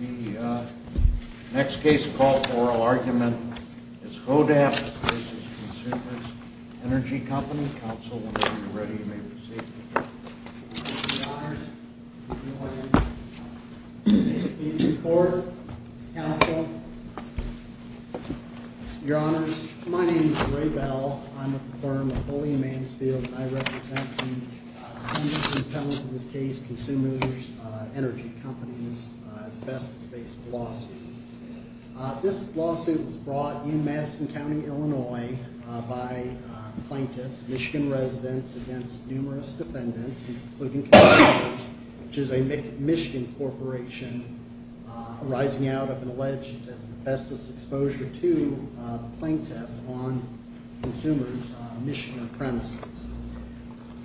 The next case for oral argument is Hodapp v. Consumers Energy Company. Counsel, when you're ready, you may proceed. Your Honors, if you'll allow me. Please report, Counsel. Your Honors, my name is Ray Bell. I'm a firm of Holy and Mansfield. And I represent the industry felons in this case, Consumers Energy Company, as best as based lawsuit. This lawsuit was brought in Madison County, Illinois, by plaintiffs, Michigan residents, against numerous defendants, including Consumers, which is a Michigan corporation, arising out of an alleged bestest exposure to a plaintiff on Consumers' Michigan premises.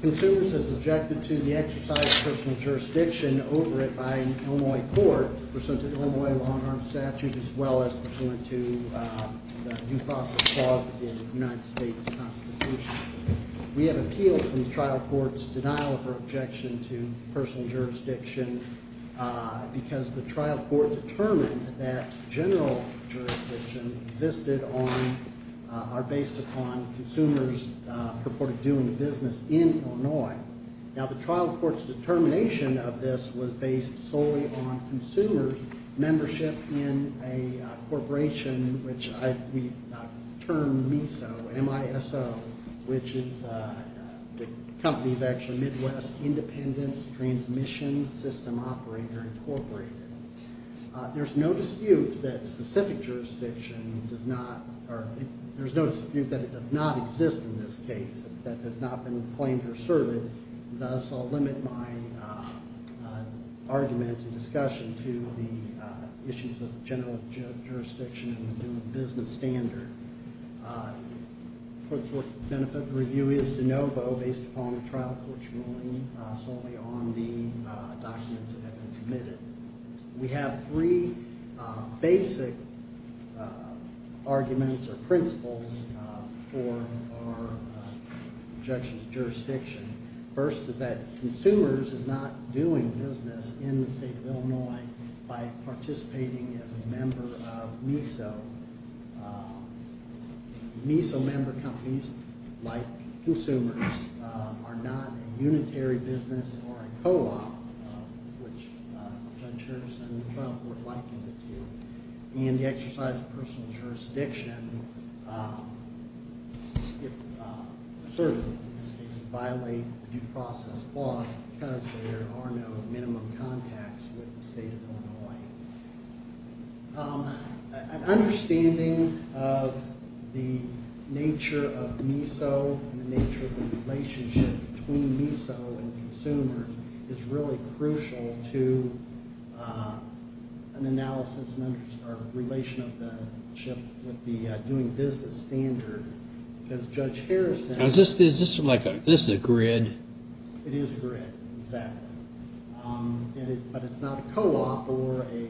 Consumers has objected to the exercise of personal jurisdiction over it by an Illinois court, pursuant to the Illinois long-arm statute, as well as pursuant to the due process clause of the United States Constitution. We have appealed from the trial court's denial of her objection to personal jurisdiction because the trial court determined that general jurisdiction existed on, or based upon, Consumers' purported due in business in Illinois. Now, the trial court's determination of this was based solely on Consumers' membership in a corporation, which we termed MISO, M-I-S-O, which is the company's actually Midwest Independent Transmission System Operator Incorporated. There's no dispute that specific jurisdiction does not, or there's no dispute that it does not exist in this case, that it has not been claimed or asserted. Thus, I'll limit my argument and discussion to the issues of general jurisdiction and the due in business standard. For the benefit of the review, it's de novo based upon the trial court's ruling solely on the documents that have been submitted. We have three basic arguments or principles for our objection to jurisdiction. First is that Consumers is not doing business in the state of Illinois by participating as a member of MISO. MISO member companies, like Consumers, are not a unitary business or a co-op, which Judge Hurst and the trial court likened it to. And the exercise of personal jurisdiction, if asserted in this case, would violate the due process clause because there are no minimum contacts with the state of Illinois. An understanding of the nature of MISO and the nature of the relationship between MISO and Consumers is really crucial to an analysis or relation of the ship with the due in business standard. Because Judge Harrison... Is this like a grid? It is a grid, exactly. But it's not a co-op or a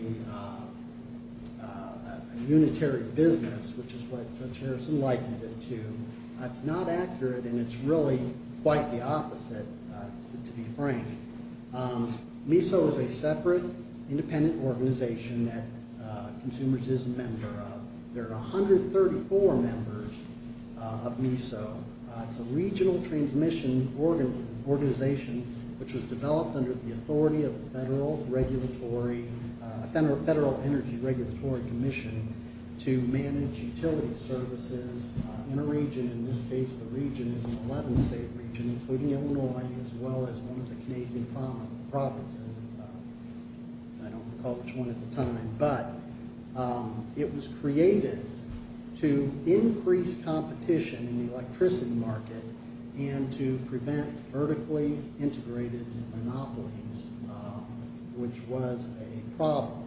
unitary business, which is what Judge Harrison likened it to. It's not accurate, and it's really quite the opposite, to be frank. MISO is a separate, independent organization that Consumers is a member of. There are 134 members of MISO. It's a regional transmission organization, which was developed under the authority of the Federal Energy Regulatory Commission to manage utility services in a region. In this case, the region is an 11-state region, including Illinois, as well as one of the Canadian provinces. I don't recall which one at the time. But it was created to increase competition in the electricity market and to prevent vertically integrated monopolies, which was a problem.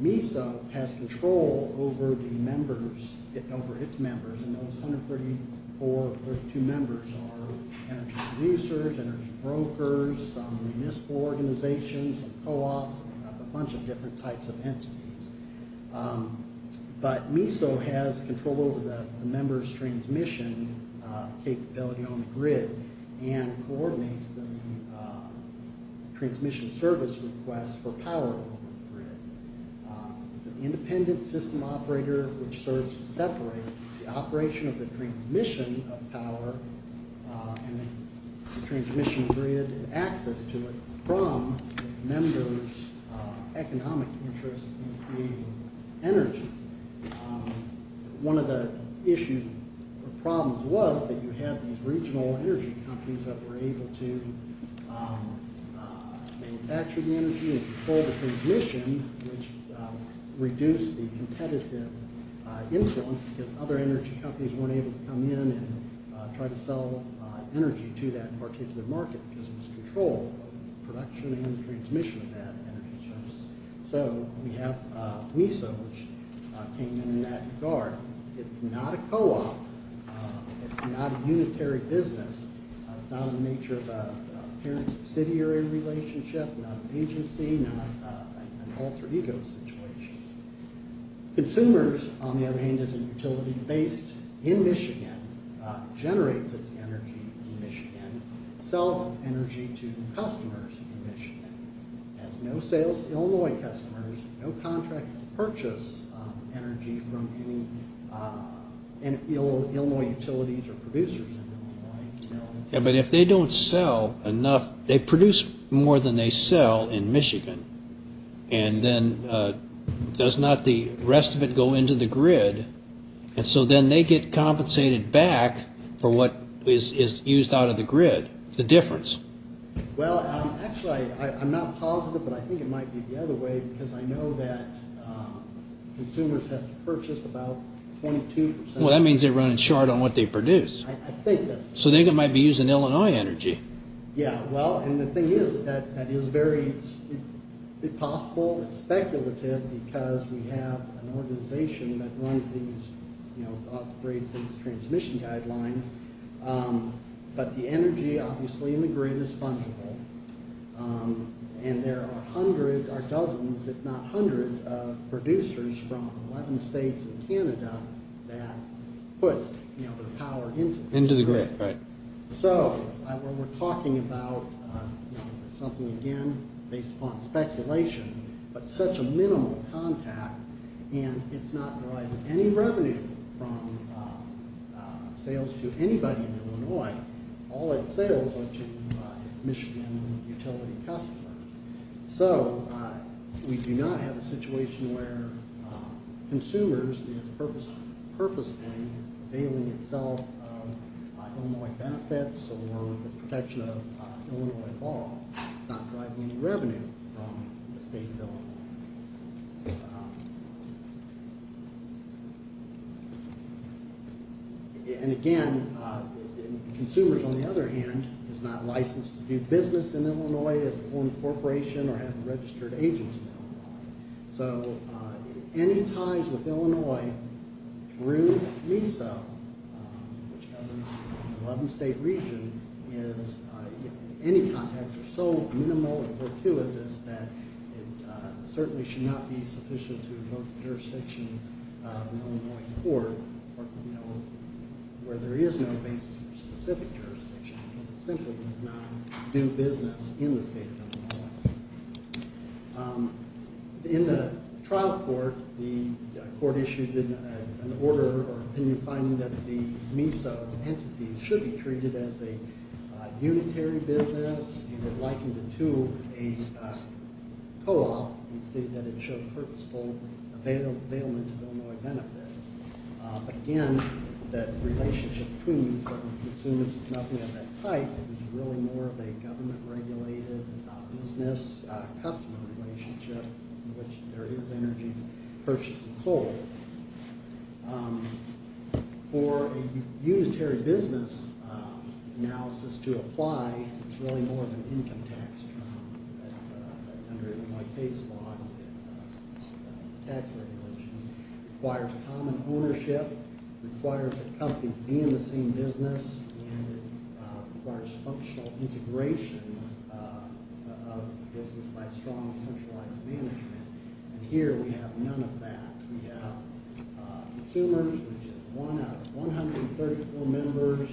MISO has control over its members, and those 134 or 132 members are energy producers, energy brokers, some municipal organizations, some co-ops, a bunch of different types of entities. But MISO has control over the members' transmission capability on the grid and coordinates the transmission service requests for power over the grid. It's an independent system operator, which serves to separate the operation of the transmission of power and the transmission grid and access to it from its members' economic interests in creating energy. One of the issues or problems was that you had these regional energy companies that were able to manufacture the energy and control the transmission, which reduced the competitive influence because other energy companies weren't able to come in and try to sell energy to that particular market because it was controlled, both the production and the transmission of that energy source. So we have MISO, which came in in that regard. It's not a co-op. It's not a unitary business. It's not in the nature of a parent-subsidiary relationship, not an agency, not an alter-ego situation. Consumers, on the other hand, is a utility based in Michigan, generates its energy in Michigan, sells its energy to customers in Michigan, has no sales to Illinois customers, no contracts to purchase energy from any Illinois utilities or producers in Illinois. Yeah, but if they don't sell enough, they produce more than they sell in Michigan, and then does not the rest of it go into the grid? And so then they get compensated back for what is used out of the grid, the difference. Well, actually, I'm not positive, but I think it might be the other way because I know that consumers have to purchase about 22 percent of their energy. Well, that means they're running short on what they produce. I think that's true. So they might be using Illinois energy. Yeah, well, and the thing is that that is very possible and speculative because we have an organization that runs these transmission guidelines, but the energy, obviously, in the grid is fungible, and there are hundreds or dozens if not hundreds of producers from 11 states and Canada that put their power into the grid. Right. So we're talking about something, again, based upon speculation, but such a minimal contact, and it's not deriving any revenue from sales to anybody in Illinois. All its sales are to Michigan utility customers. So we do not have a situation where consumers is purposely availing itself of Illinois benefits or the protection of Illinois law, not deriving any revenue from the state of Illinois. And again, consumers, on the other hand, is not licensed to do business in Illinois as a formed corporation or having registered agents in Illinois. So any ties with Illinois through MESA, which governs the 11-state region, any contacts are so minimal and fortuitous that it certainly should not be sufficient to revoke the jurisdiction of an Illinois court where there is no basis for specific jurisdiction because it simply does not do business in the state of Illinois. In the trial court, the court issued an order or opinion finding that the MESA entities should be treated as a unitary business, likened to a co-op, and stated that it showed purposeful availment of Illinois benefits. Again, that relationship between consumers is nothing of that type. It's really more of a government-regulated business-customer relationship in which there is energy purchased and sold. For a unitary business analysis to apply, it's really more of an income tax term under Illinois case law and tax regulation. It requires common ownership. It requires that companies be in the same business. And it requires functional integration of business by strong centralized management. And here we have none of that. We have consumers, which is one out of 134 members,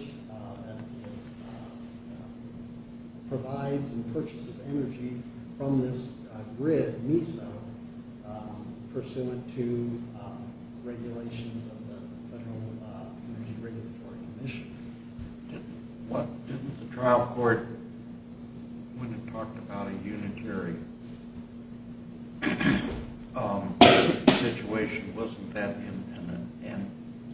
that provides and purchases energy from this grid, MESA, pursuant to regulations of the Federal Energy Regulatory Commission. Didn't the trial court, when it talked about a unitary situation, wasn't that in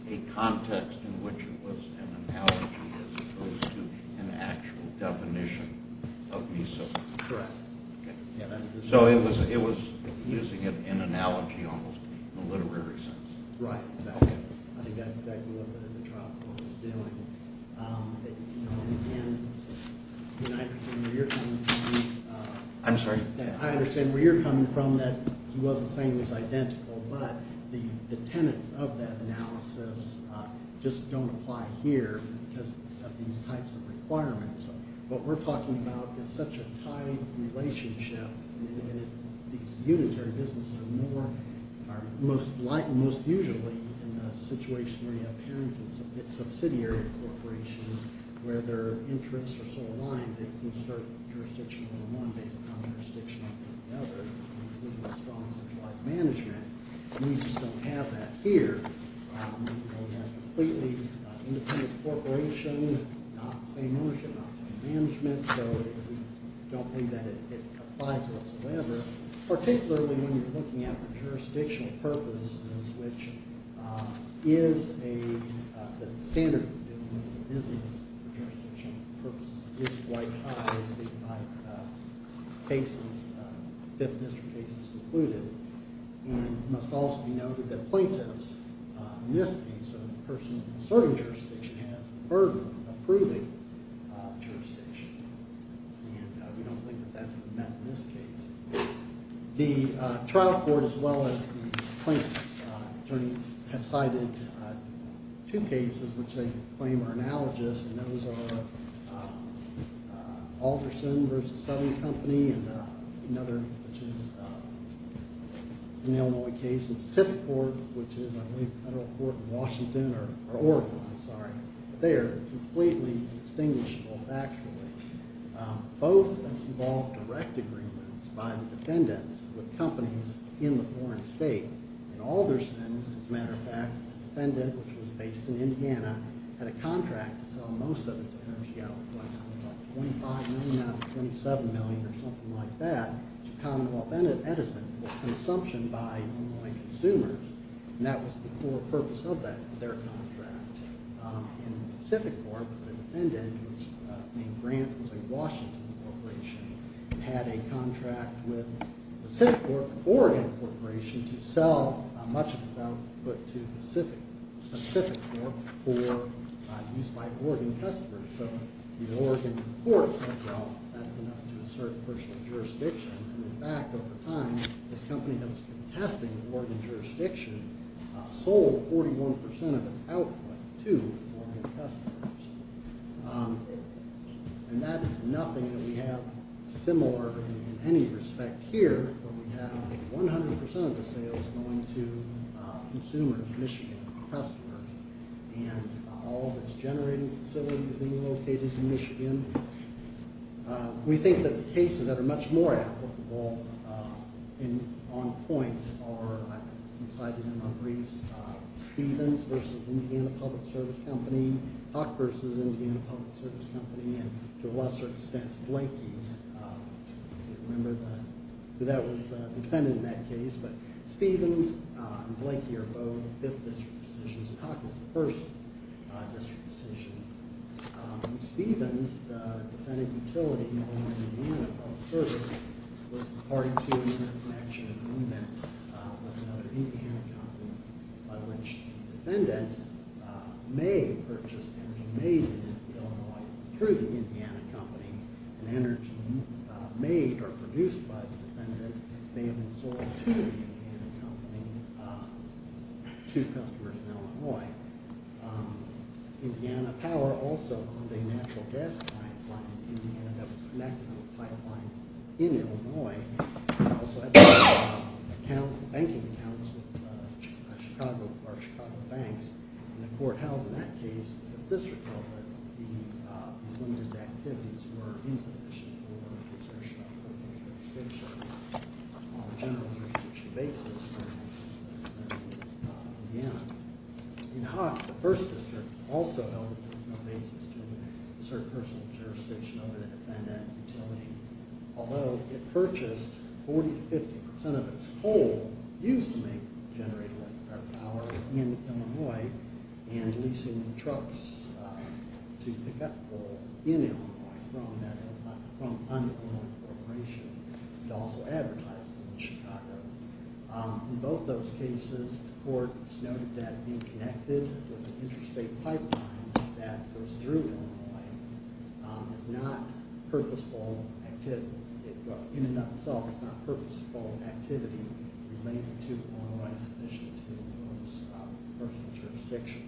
a context in which it was an analogy as opposed to an actual definition of MESA? Correct. So it was using it in analogy almost in a literary sense. Right. I think that's exactly what the trial court was doing. I'm sorry? I understand where you're coming from, that he wasn't saying it was identical, but the tenets of that analysis just don't apply here because of these types of requirements. What we're talking about is such a tight relationship. These unitary businesses are most usually in a situation where you have parents and subsidiary corporations where their interests are so aligned that they can assert jurisdiction over one based upon jurisdiction over the other, including a strong centralized management. We just don't have that here. We have a completely independent corporation, not the same ownership, not the same management. So we don't think that it applies whatsoever, particularly when you're looking at jurisdictional purposes, which is a standard business for jurisdiction purposes. It is quite high, speaking of cases, fifth district cases included. It must also be noted that plaintiffs in this case, the person asserting jurisdiction has the burden of approving jurisdiction, and we don't think that that's met in this case. The trial court as well as the plaintiffs attorneys have cited two cases which they claim are analogous, and those are Alderson v. Southern Company and another which is an Illinois case, which is a federal court in Washington or Oregon, I'm sorry. They are completely distinguishable factually. Both involved direct agreements by the defendants with companies in the foreign state. In Alderson, as a matter of fact, the defendant, which was based in Indiana, had a contract to sell most of its energy out, about $25 million out of $27 million or something like that, to Commonwealth Edison for consumption by Illinois consumers, and that was the core purpose of their contract. In Pacific Corp, the defendant, whose name Grant, was a Washington corporation, had a contract with Pacific Corp, an Oregon corporation, to sell much of its output to Pacific Corp for use by Oregon customers. So the Oregon court said, well, that's enough to assert personal jurisdiction, and in fact, over time, this company that was contesting Oregon jurisdiction sold 41% of its output to Oregon customers. And that is nothing that we have similar in any respect here, but we have 100% of the sales going to consumers, Michigan customers, and all of its generating facilities being located in Michigan. We think that the cases that are much more applicable and on point are, as I cited in my briefs, Stevens v. Indiana Public Service Company, Hawk v. Indiana Public Service Company, and to a lesser extent, Blakey. I don't remember who that was, the defendant in that case, but Stevens and Blakey are both 5th district decisions, and Hawk is the 1st district decision. Stevens, the defendant utility, known as Indiana Public Service, was the part two interconnection agreement with another Indiana company by which the defendant may purchase energy made in Illinois through the Indiana company, and energy made or produced by the defendant may have been sold to the Indiana company to customers in Illinois. Indiana Power also owned a natural gas pipeline in Indiana that was connected to a pipeline in Illinois, and also had banking accounts with our Chicago banks, and the court held in that case, the district held that these limited activities were insufficient for assertion of personal jurisdiction on a general jurisdiction basis. In Hawk, the 1st district also held that there was no basis to assert personal jurisdiction over the defendant utility, although it purchased 40 to 50% of its coal used to generate electricity in Illinois, and leasing trucks to pick up coal in Illinois from an unknown corporation. It also advertised it in Chicago. In both those cases, the court noted that being connected with an interstate pipeline that goes through Illinois is not purposeful activity. related to Illinois is sufficient to impose personal jurisdiction.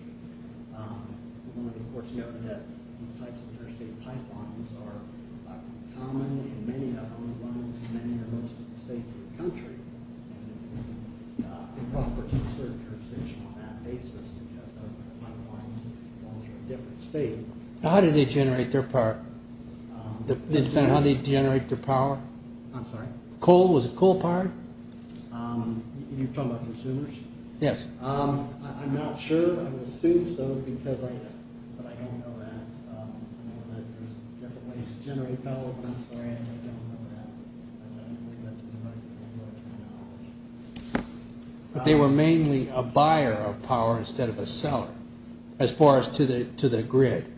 The court noted that these types of interstate pipelines are common in many of Illinois and many or most of the states of the country, and it would be improper to assert jurisdiction on that basis because the pipelines go through a different state. How did they generate their power? How did they generate their power? I'm sorry? Was it coal power? You're talking about consumers? Yes. I'm not sure. I would assume so, but I don't know that. There's different ways to generate power. I'm sorry. I don't know that. I don't think that's the right terminology. But they were mainly a buyer of power instead of a seller as far as to the grid.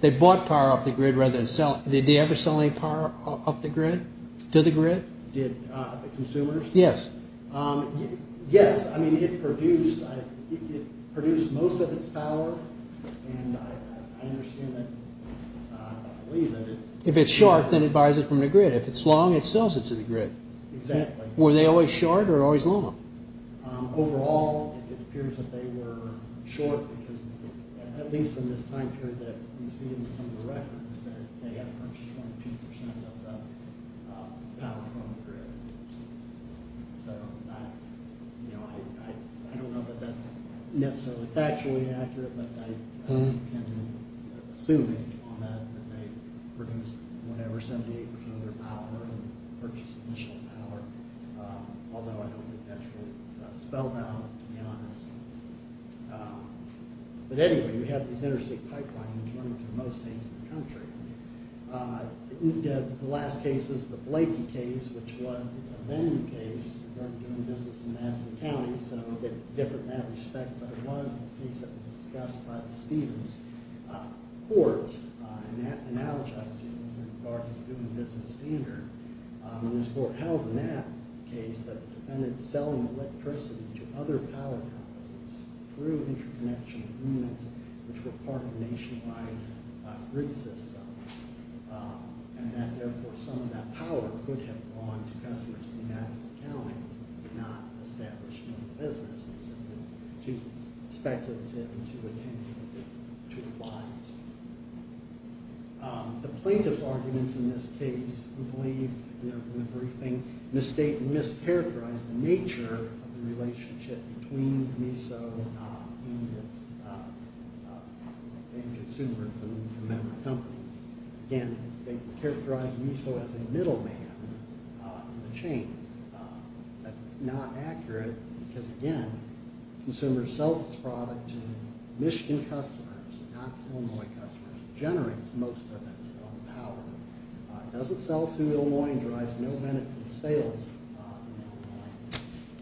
They bought power off the grid rather than sell it. Did they ever sell any power off the grid, to the grid? Consumers? Yes. Yes. I mean, it produced most of its power, and I understand that. I believe that. If it's short, then it buys it from the grid. If it's long, it sells it to the grid. Exactly. Were they always short or always long? Overall, it appears that they were short because at least in this time period that you see in some of the records, they had purchased 22% of the power from the grid. So I don't know that that's necessarily factually accurate, but I can assume based upon that that they produced whatever 78% of their power when they purchased initial power, although I don't think that's really spelled out, to be honest. But anyway, we have these interstate pipelines running through most states in the country. The last case is the Blakey case, which was a venue case. It wasn't doing business in Madison County, so a bit different in that respect, but it was a case that was discussed by the Stevens court, and now the judge is doing business standard. And this court held in that case that the defendant selling electricity to other power companies through interconnection agreements, which were part of a nationwide grid system, and that therefore some of that power could have gone to customers in Madison County and not established new businesses. It's a little too speculative and too opinionated to apply. The plaintiff's arguments in this case, we believe in the briefing, misstate and mischaracterize the nature of the relationship between MISO and its consumers and member companies. Again, they characterize MISO as a middleman in the chain. That's not accurate because, again, the consumer sells its product to Michigan customers, not to Illinois customers. It generates most of its own power. It doesn't sell to Illinois and drives no benefit to sales in Illinois.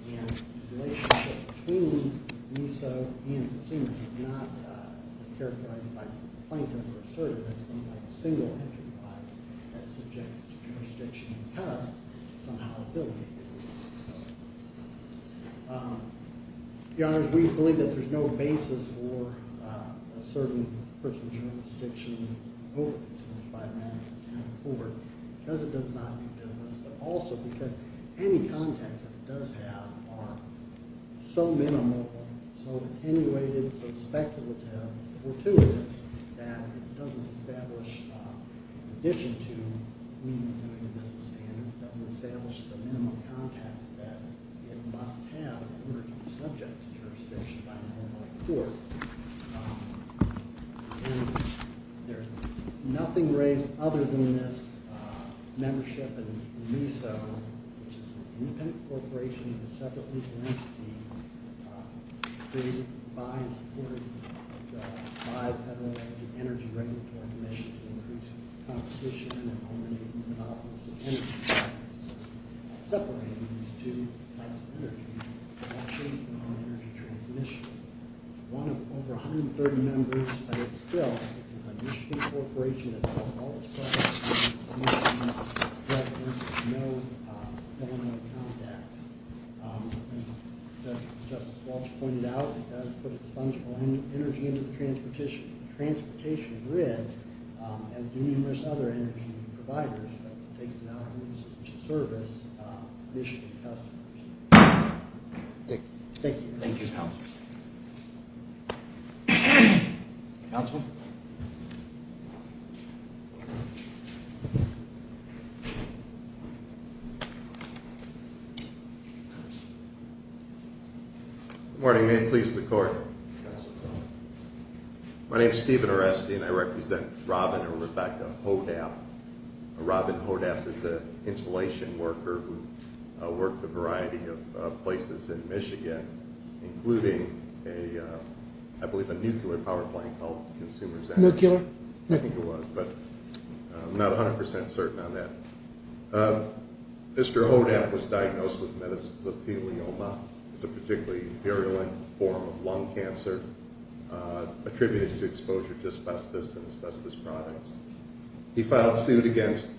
And the relationship between MISO and consumers is not as characterized by the plaintiff or assertive as something like a single-entry product that subjects to jurisdiction because somehow affiliated with MISO. Your Honors, we believe that there's no basis for asserting personal jurisdiction over consumers in Madison County Court because it does not do business, but also because any contacts that it does have are so minimal, so attenuated, so speculative, so gratuitous that it doesn't establish, in addition to doing a business standard, it doesn't establish the minimum contacts that it must have in order to be subject to jurisdiction by an Illinois court. And there's nothing raised other than this membership in MISO, which is an independent corporation of a separate legal entity created by and supported by the Federal Energy Regulatory Commission to increase competition and eliminate monopolistic energy practices. Separating these two types of energy production from energy transmission. One of over 130 members, but it's still an initiative corporation that calls all its clients to see if there's evidence of no Illinois contacts. As Justice Walsh pointed out, it does put its funds for energy into the transportation grid, as do numerous other energy providers, but it takes it out of its service initiative customers. Thank you. Thank you, counsel. Counsel? Good morning. May it please the Court? Yes, Your Honor. My name is Stephen Oresti, and I represent Robin or Rebecca Hodap. Robin Hodap is an insulation worker who worked a variety of places in Michigan, including, I believe, a nuclear power plant called Consumer's Energy. Nuclear? I think it was, but I'm not 100% certain on that. Mr. Hodap was diagnosed with medicines of pelioma. It's a particularly virulent form of lung cancer. Attributed to exposure to asbestos and asbestos products. He filed suit against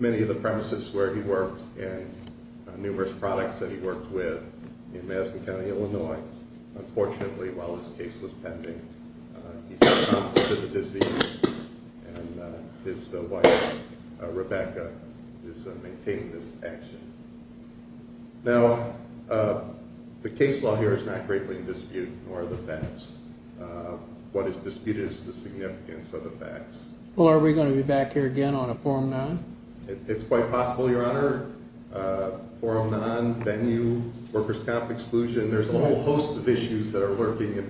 many of the premises where he worked and numerous products that he worked with in Madison County, Illinois. Unfortunately, while his case was pending, he succumbed to the disease, and his wife, Rebecca, is maintaining this action. Now, the case law here is not greatly in dispute, nor are the facts. What is disputed is the significance of the facts. Well, are we going to be back here again on a forum non? It's quite possible, Your Honor. Forum non, venue, workers' comp exclusion, there's a whole host of issues that are lurking in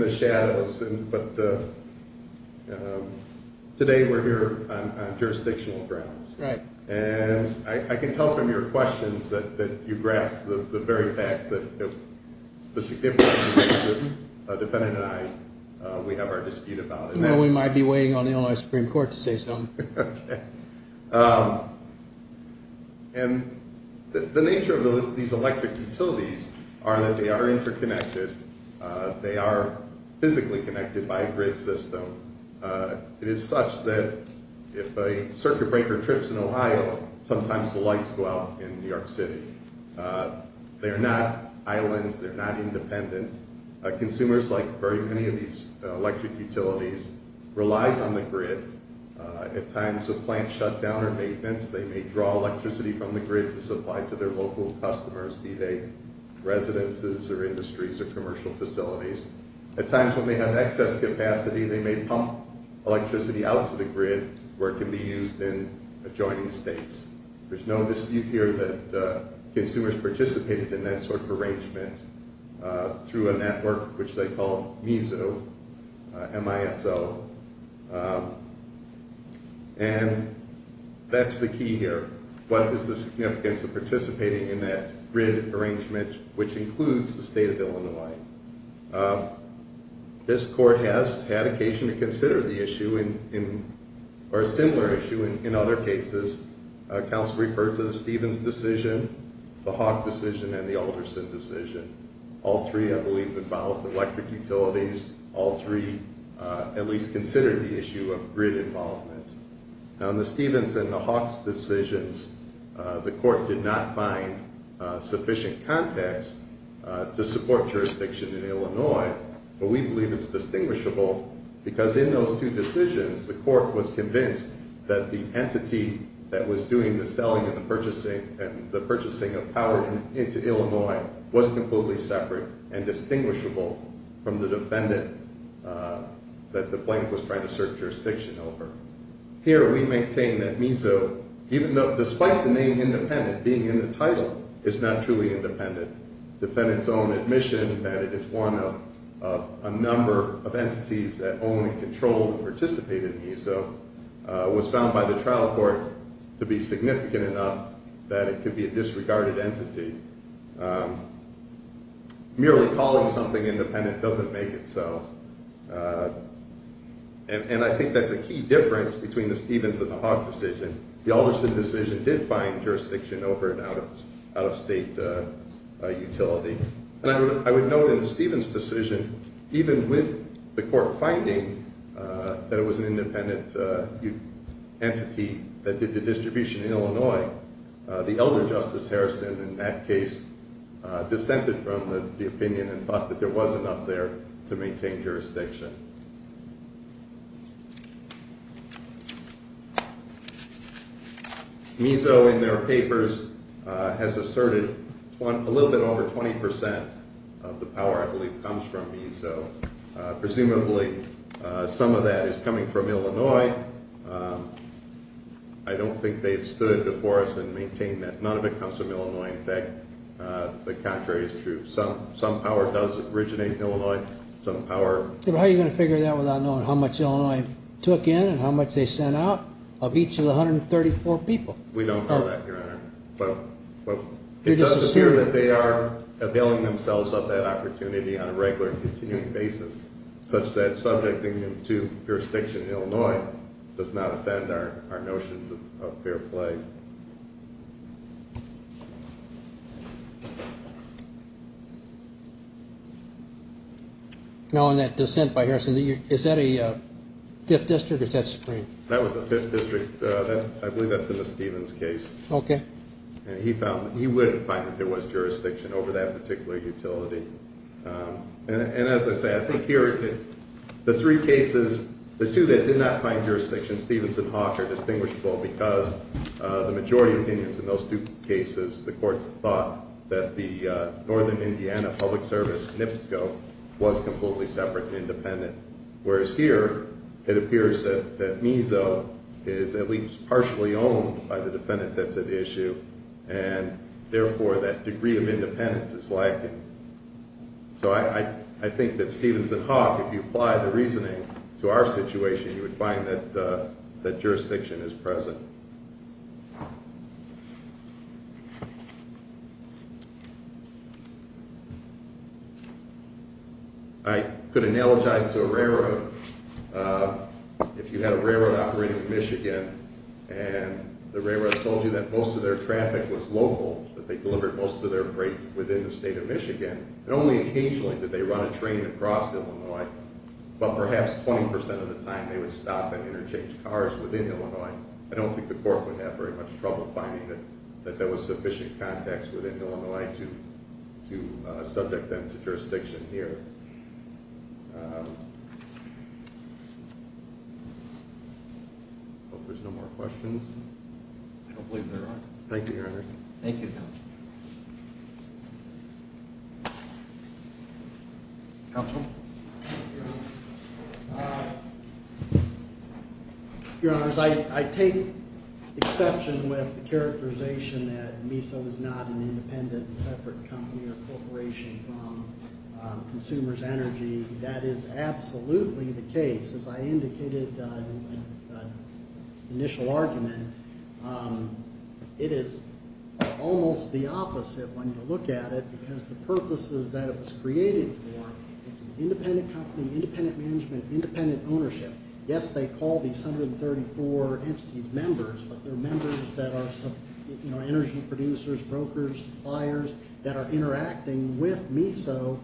the shadows. But today we're here on jurisdictional grounds. Right. And I can tell from your questions that you've grasped the very facts that the significance of which the defendant and I, we have our dispute about. Well, we might be waiting on the Illinois Supreme Court to say something. Okay. And the nature of these electric utilities are that they are interconnected. They are physically connected by a grid system. It is such that if a circuit breaker trips in Ohio, sometimes the lights go out in New York City. They are not islands. They're not independent. Consumers, like very many of these electric utilities, relies on the grid. At times of plant shutdown or maintenance, they may draw electricity from the grid to supply to their local customers, be they residences or industries or commercial facilities. At times when they have excess capacity, they may pump electricity out to the grid where it can be used in adjoining states. There's no dispute here that consumers participated in that sort of arrangement through a network which they call MISO, M-I-S-O. And that's the key here. What is the significance of participating in that grid arrangement, which includes the state of Illinois? This court has had occasion to consider the issue or a similar issue in other cases. Council referred to the Stevens decision, the Hawk decision, and the Alderson decision. All three, I believe, involved electric utilities. All three at least considered the issue of grid involvement. On the Stevens and the Hawk's decisions, the court did not find sufficient context to support jurisdiction in Illinois, but we believe it's distinguishable because in those two decisions, the court was convinced that the entity that was doing the selling and the purchasing of power into Illinois was completely separate and distinguishable from the defendant that the plaintiff was trying to assert jurisdiction over. Here we maintain that MISO, despite the name independent, being in the title, is not truly independent. The defendant's own admission that it is one of a number of entities that own and control and participate in MISO was found by the trial court to be significant enough that it could be a disregarded entity. Merely calling something independent doesn't make it so. And I think that's a key difference between the Stevens and the Hawk decision. The Alderson decision did find jurisdiction over an out-of-state utility. And I would note in the Stevens decision, even with the court finding that it was an independent entity that did the distribution in Illinois, the elder Justice Harrison in that case dissented from the opinion and thought that there was enough there to maintain jurisdiction. MISO in their papers has asserted a little bit over 20% of the power, I believe, comes from MISO. Presumably some of that is coming from Illinois. I don't think they've stood before us and maintained that none of it comes from Illinois. In fact, the contrary is true. Some power does originate in Illinois. How are you going to figure that without knowing how much Illinois took in and how much they sent out of each of the 134 people? We don't know that, Your Honor. But it does appear that they are availing themselves of that opportunity on a regular and continuing basis, such that subjecting them to jurisdiction in Illinois does not offend our notions of fair play. Now on that dissent by Harrison, is that a fifth district or is that supreme? That was a fifth district. I believe that's in the Stevens case. Okay. And he found that he wouldn't find that there was jurisdiction over that particular utility. And as I say, I think here the three cases, the two that did not find jurisdiction, Stevens and Hawk, are distinguishable because the majority opinions in those two cases, the courts thought that the Northern Indiana Public Service, NPSCO, was completely separate and independent, whereas here it appears that MESO is at least partially owned by the defendant that's at issue and therefore that degree of independence is lacking. So I think that Stevens and Hawk, if you apply the reasoning to our situation, you would find that jurisdiction is present. I could analogize to a railroad. If you had a railroad operating in Michigan and the railroad told you that most of their traffic was local, that they delivered most of their freight within the state of Michigan, and only occasionally did they run a train across Illinois, but perhaps 20% of the time they would stop and interchange cars within Illinois, I don't think the court would have very much trouble finding that there was sufficient context within Illinois to subject them to jurisdiction here. I hope there's no more questions. I don't believe there are. Thank you, Your Honor. Thank you, Counsel. Counsel? Your Honor, I take exception with the characterization that MESO is not an independent, separate company or corporation from Consumers Energy. That is absolutely the case. As I indicated in the initial argument, it is almost the opposite when you look at it because the purposes that it was created for, it's an independent company, independent management, independent ownership. Yes, they call these 134 entities members, but they're members that are energy producers, brokers, suppliers, that are interacting with MESO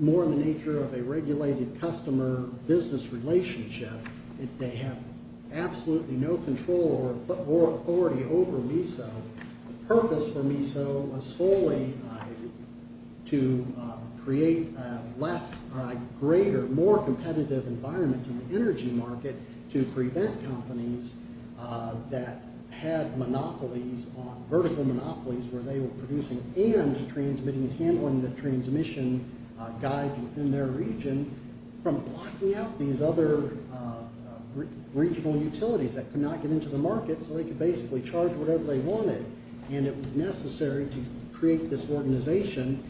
more in the nature of a regulated customer business relationship. They have absolutely no control or authority over MESO. The purpose for MESO was solely to create less, greater, more competitive environments in the energy market to prevent companies that had monopolies, vertical monopolies where they were producing and transmitting and handling the transmission guides within their region from blocking out these other regional utilities that could not get into the market so they could basically charge whatever they wanted. And it was necessary to create this organization.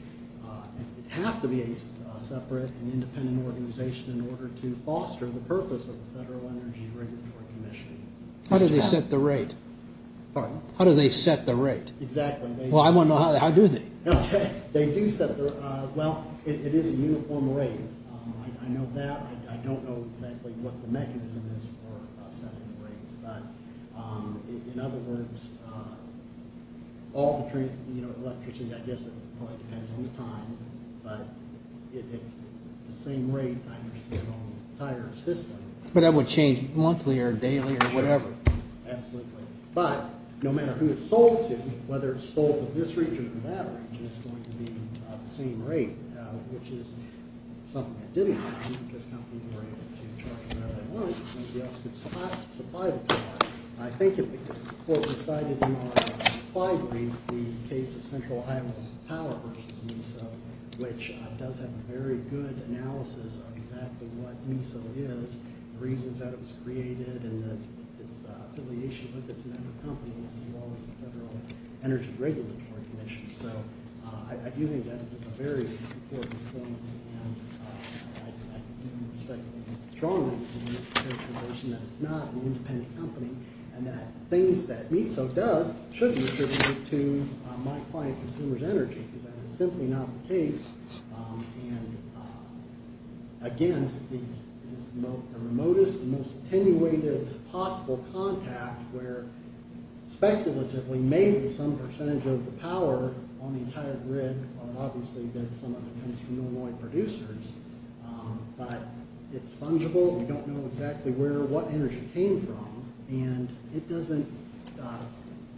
It has to be a separate and independent organization in order to foster the purpose of the Federal Energy Regulatory Commission. How do they set the rate? Pardon? How do they set the rate? Exactly. Well, I want to know, how do they? Okay. They do set the rate. Well, it is a uniform rate. I know that. I don't know exactly what the mechanism is for setting the rate. But in other words, all the electricity, I guess it probably depends on the time, but it's the same rate I understand on the entire system. But that would change monthly or daily or whatever. Absolutely. But no matter who it's sold to, whether it's sold to this region or that region, it's going to be the same rate, which is something that didn't happen because companies were able to charge whatever they wanted. Somebody else could supply the power. I think what was cited in our supply brief, the case of Central Iowa Power versus MESO, which does have a very good analysis of exactly what MESO is, the reasons that it was created and its affiliation with its member companies as well as the Federal Energy Regulatory Commission. So I do think that is a very important point, and I do respect strongly the characterization that it's not an independent company and that things that MESO does should be attributed to my client consumers' energy because that is simply not the case. And, again, the remotest and most attenuated possible contact where speculatively maybe some percentage of the power on the entire grid, and obviously there's some of it that comes from Illinois producers, but it's fungible. We don't know exactly where or what energy came from, and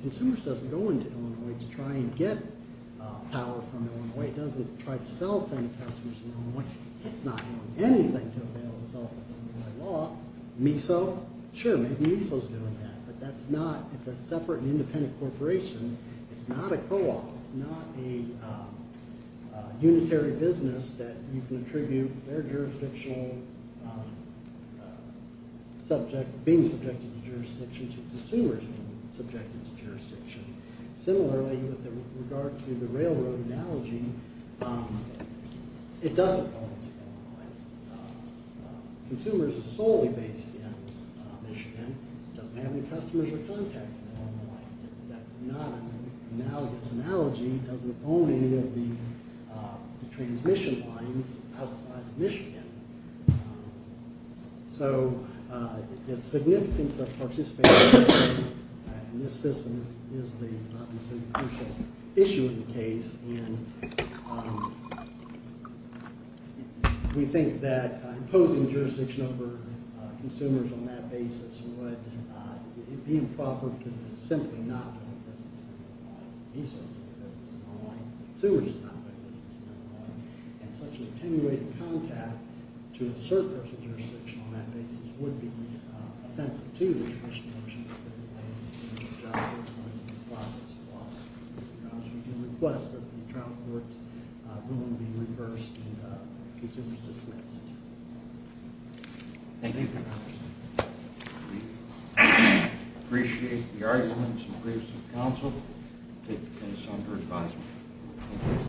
consumers doesn't go into Illinois to try and get power from Illinois. It doesn't try to sell it to any customers in Illinois. It's not doing anything to avail itself of Illinois law. MESO, sure, maybe MESO is doing that, but it's a separate and independent corporation. It's not a co-op. It's not a unitary business that you can attribute their jurisdictional subject, being subjected to jurisdiction to consumers being subjected to jurisdiction. Similarly, with regard to the railroad analogy, it doesn't go into Illinois. Consumers are solely based in Michigan. It doesn't have any customers or contacts in Illinois. That's not an analogous analogy. It doesn't own any of the transmission lines outside of Michigan. So the significance of participation in this system is the obvious and crucial issue in the case. And we think that imposing jurisdiction over consumers on that basis would be improper because it is simply not doing business in Illinois. MESO is doing business in Illinois. Consumers are not doing business in Illinois. And such an attenuated contact to a certain person's jurisdiction on that basis would be offensive to the traditional mission of the railroad and would be unjustified in the process of law enforcement. We do request that the trial court ruling be reversed and consumers dismissed. Thank you. We appreciate the arguments and briefs of counsel. We'll take the case under advisement.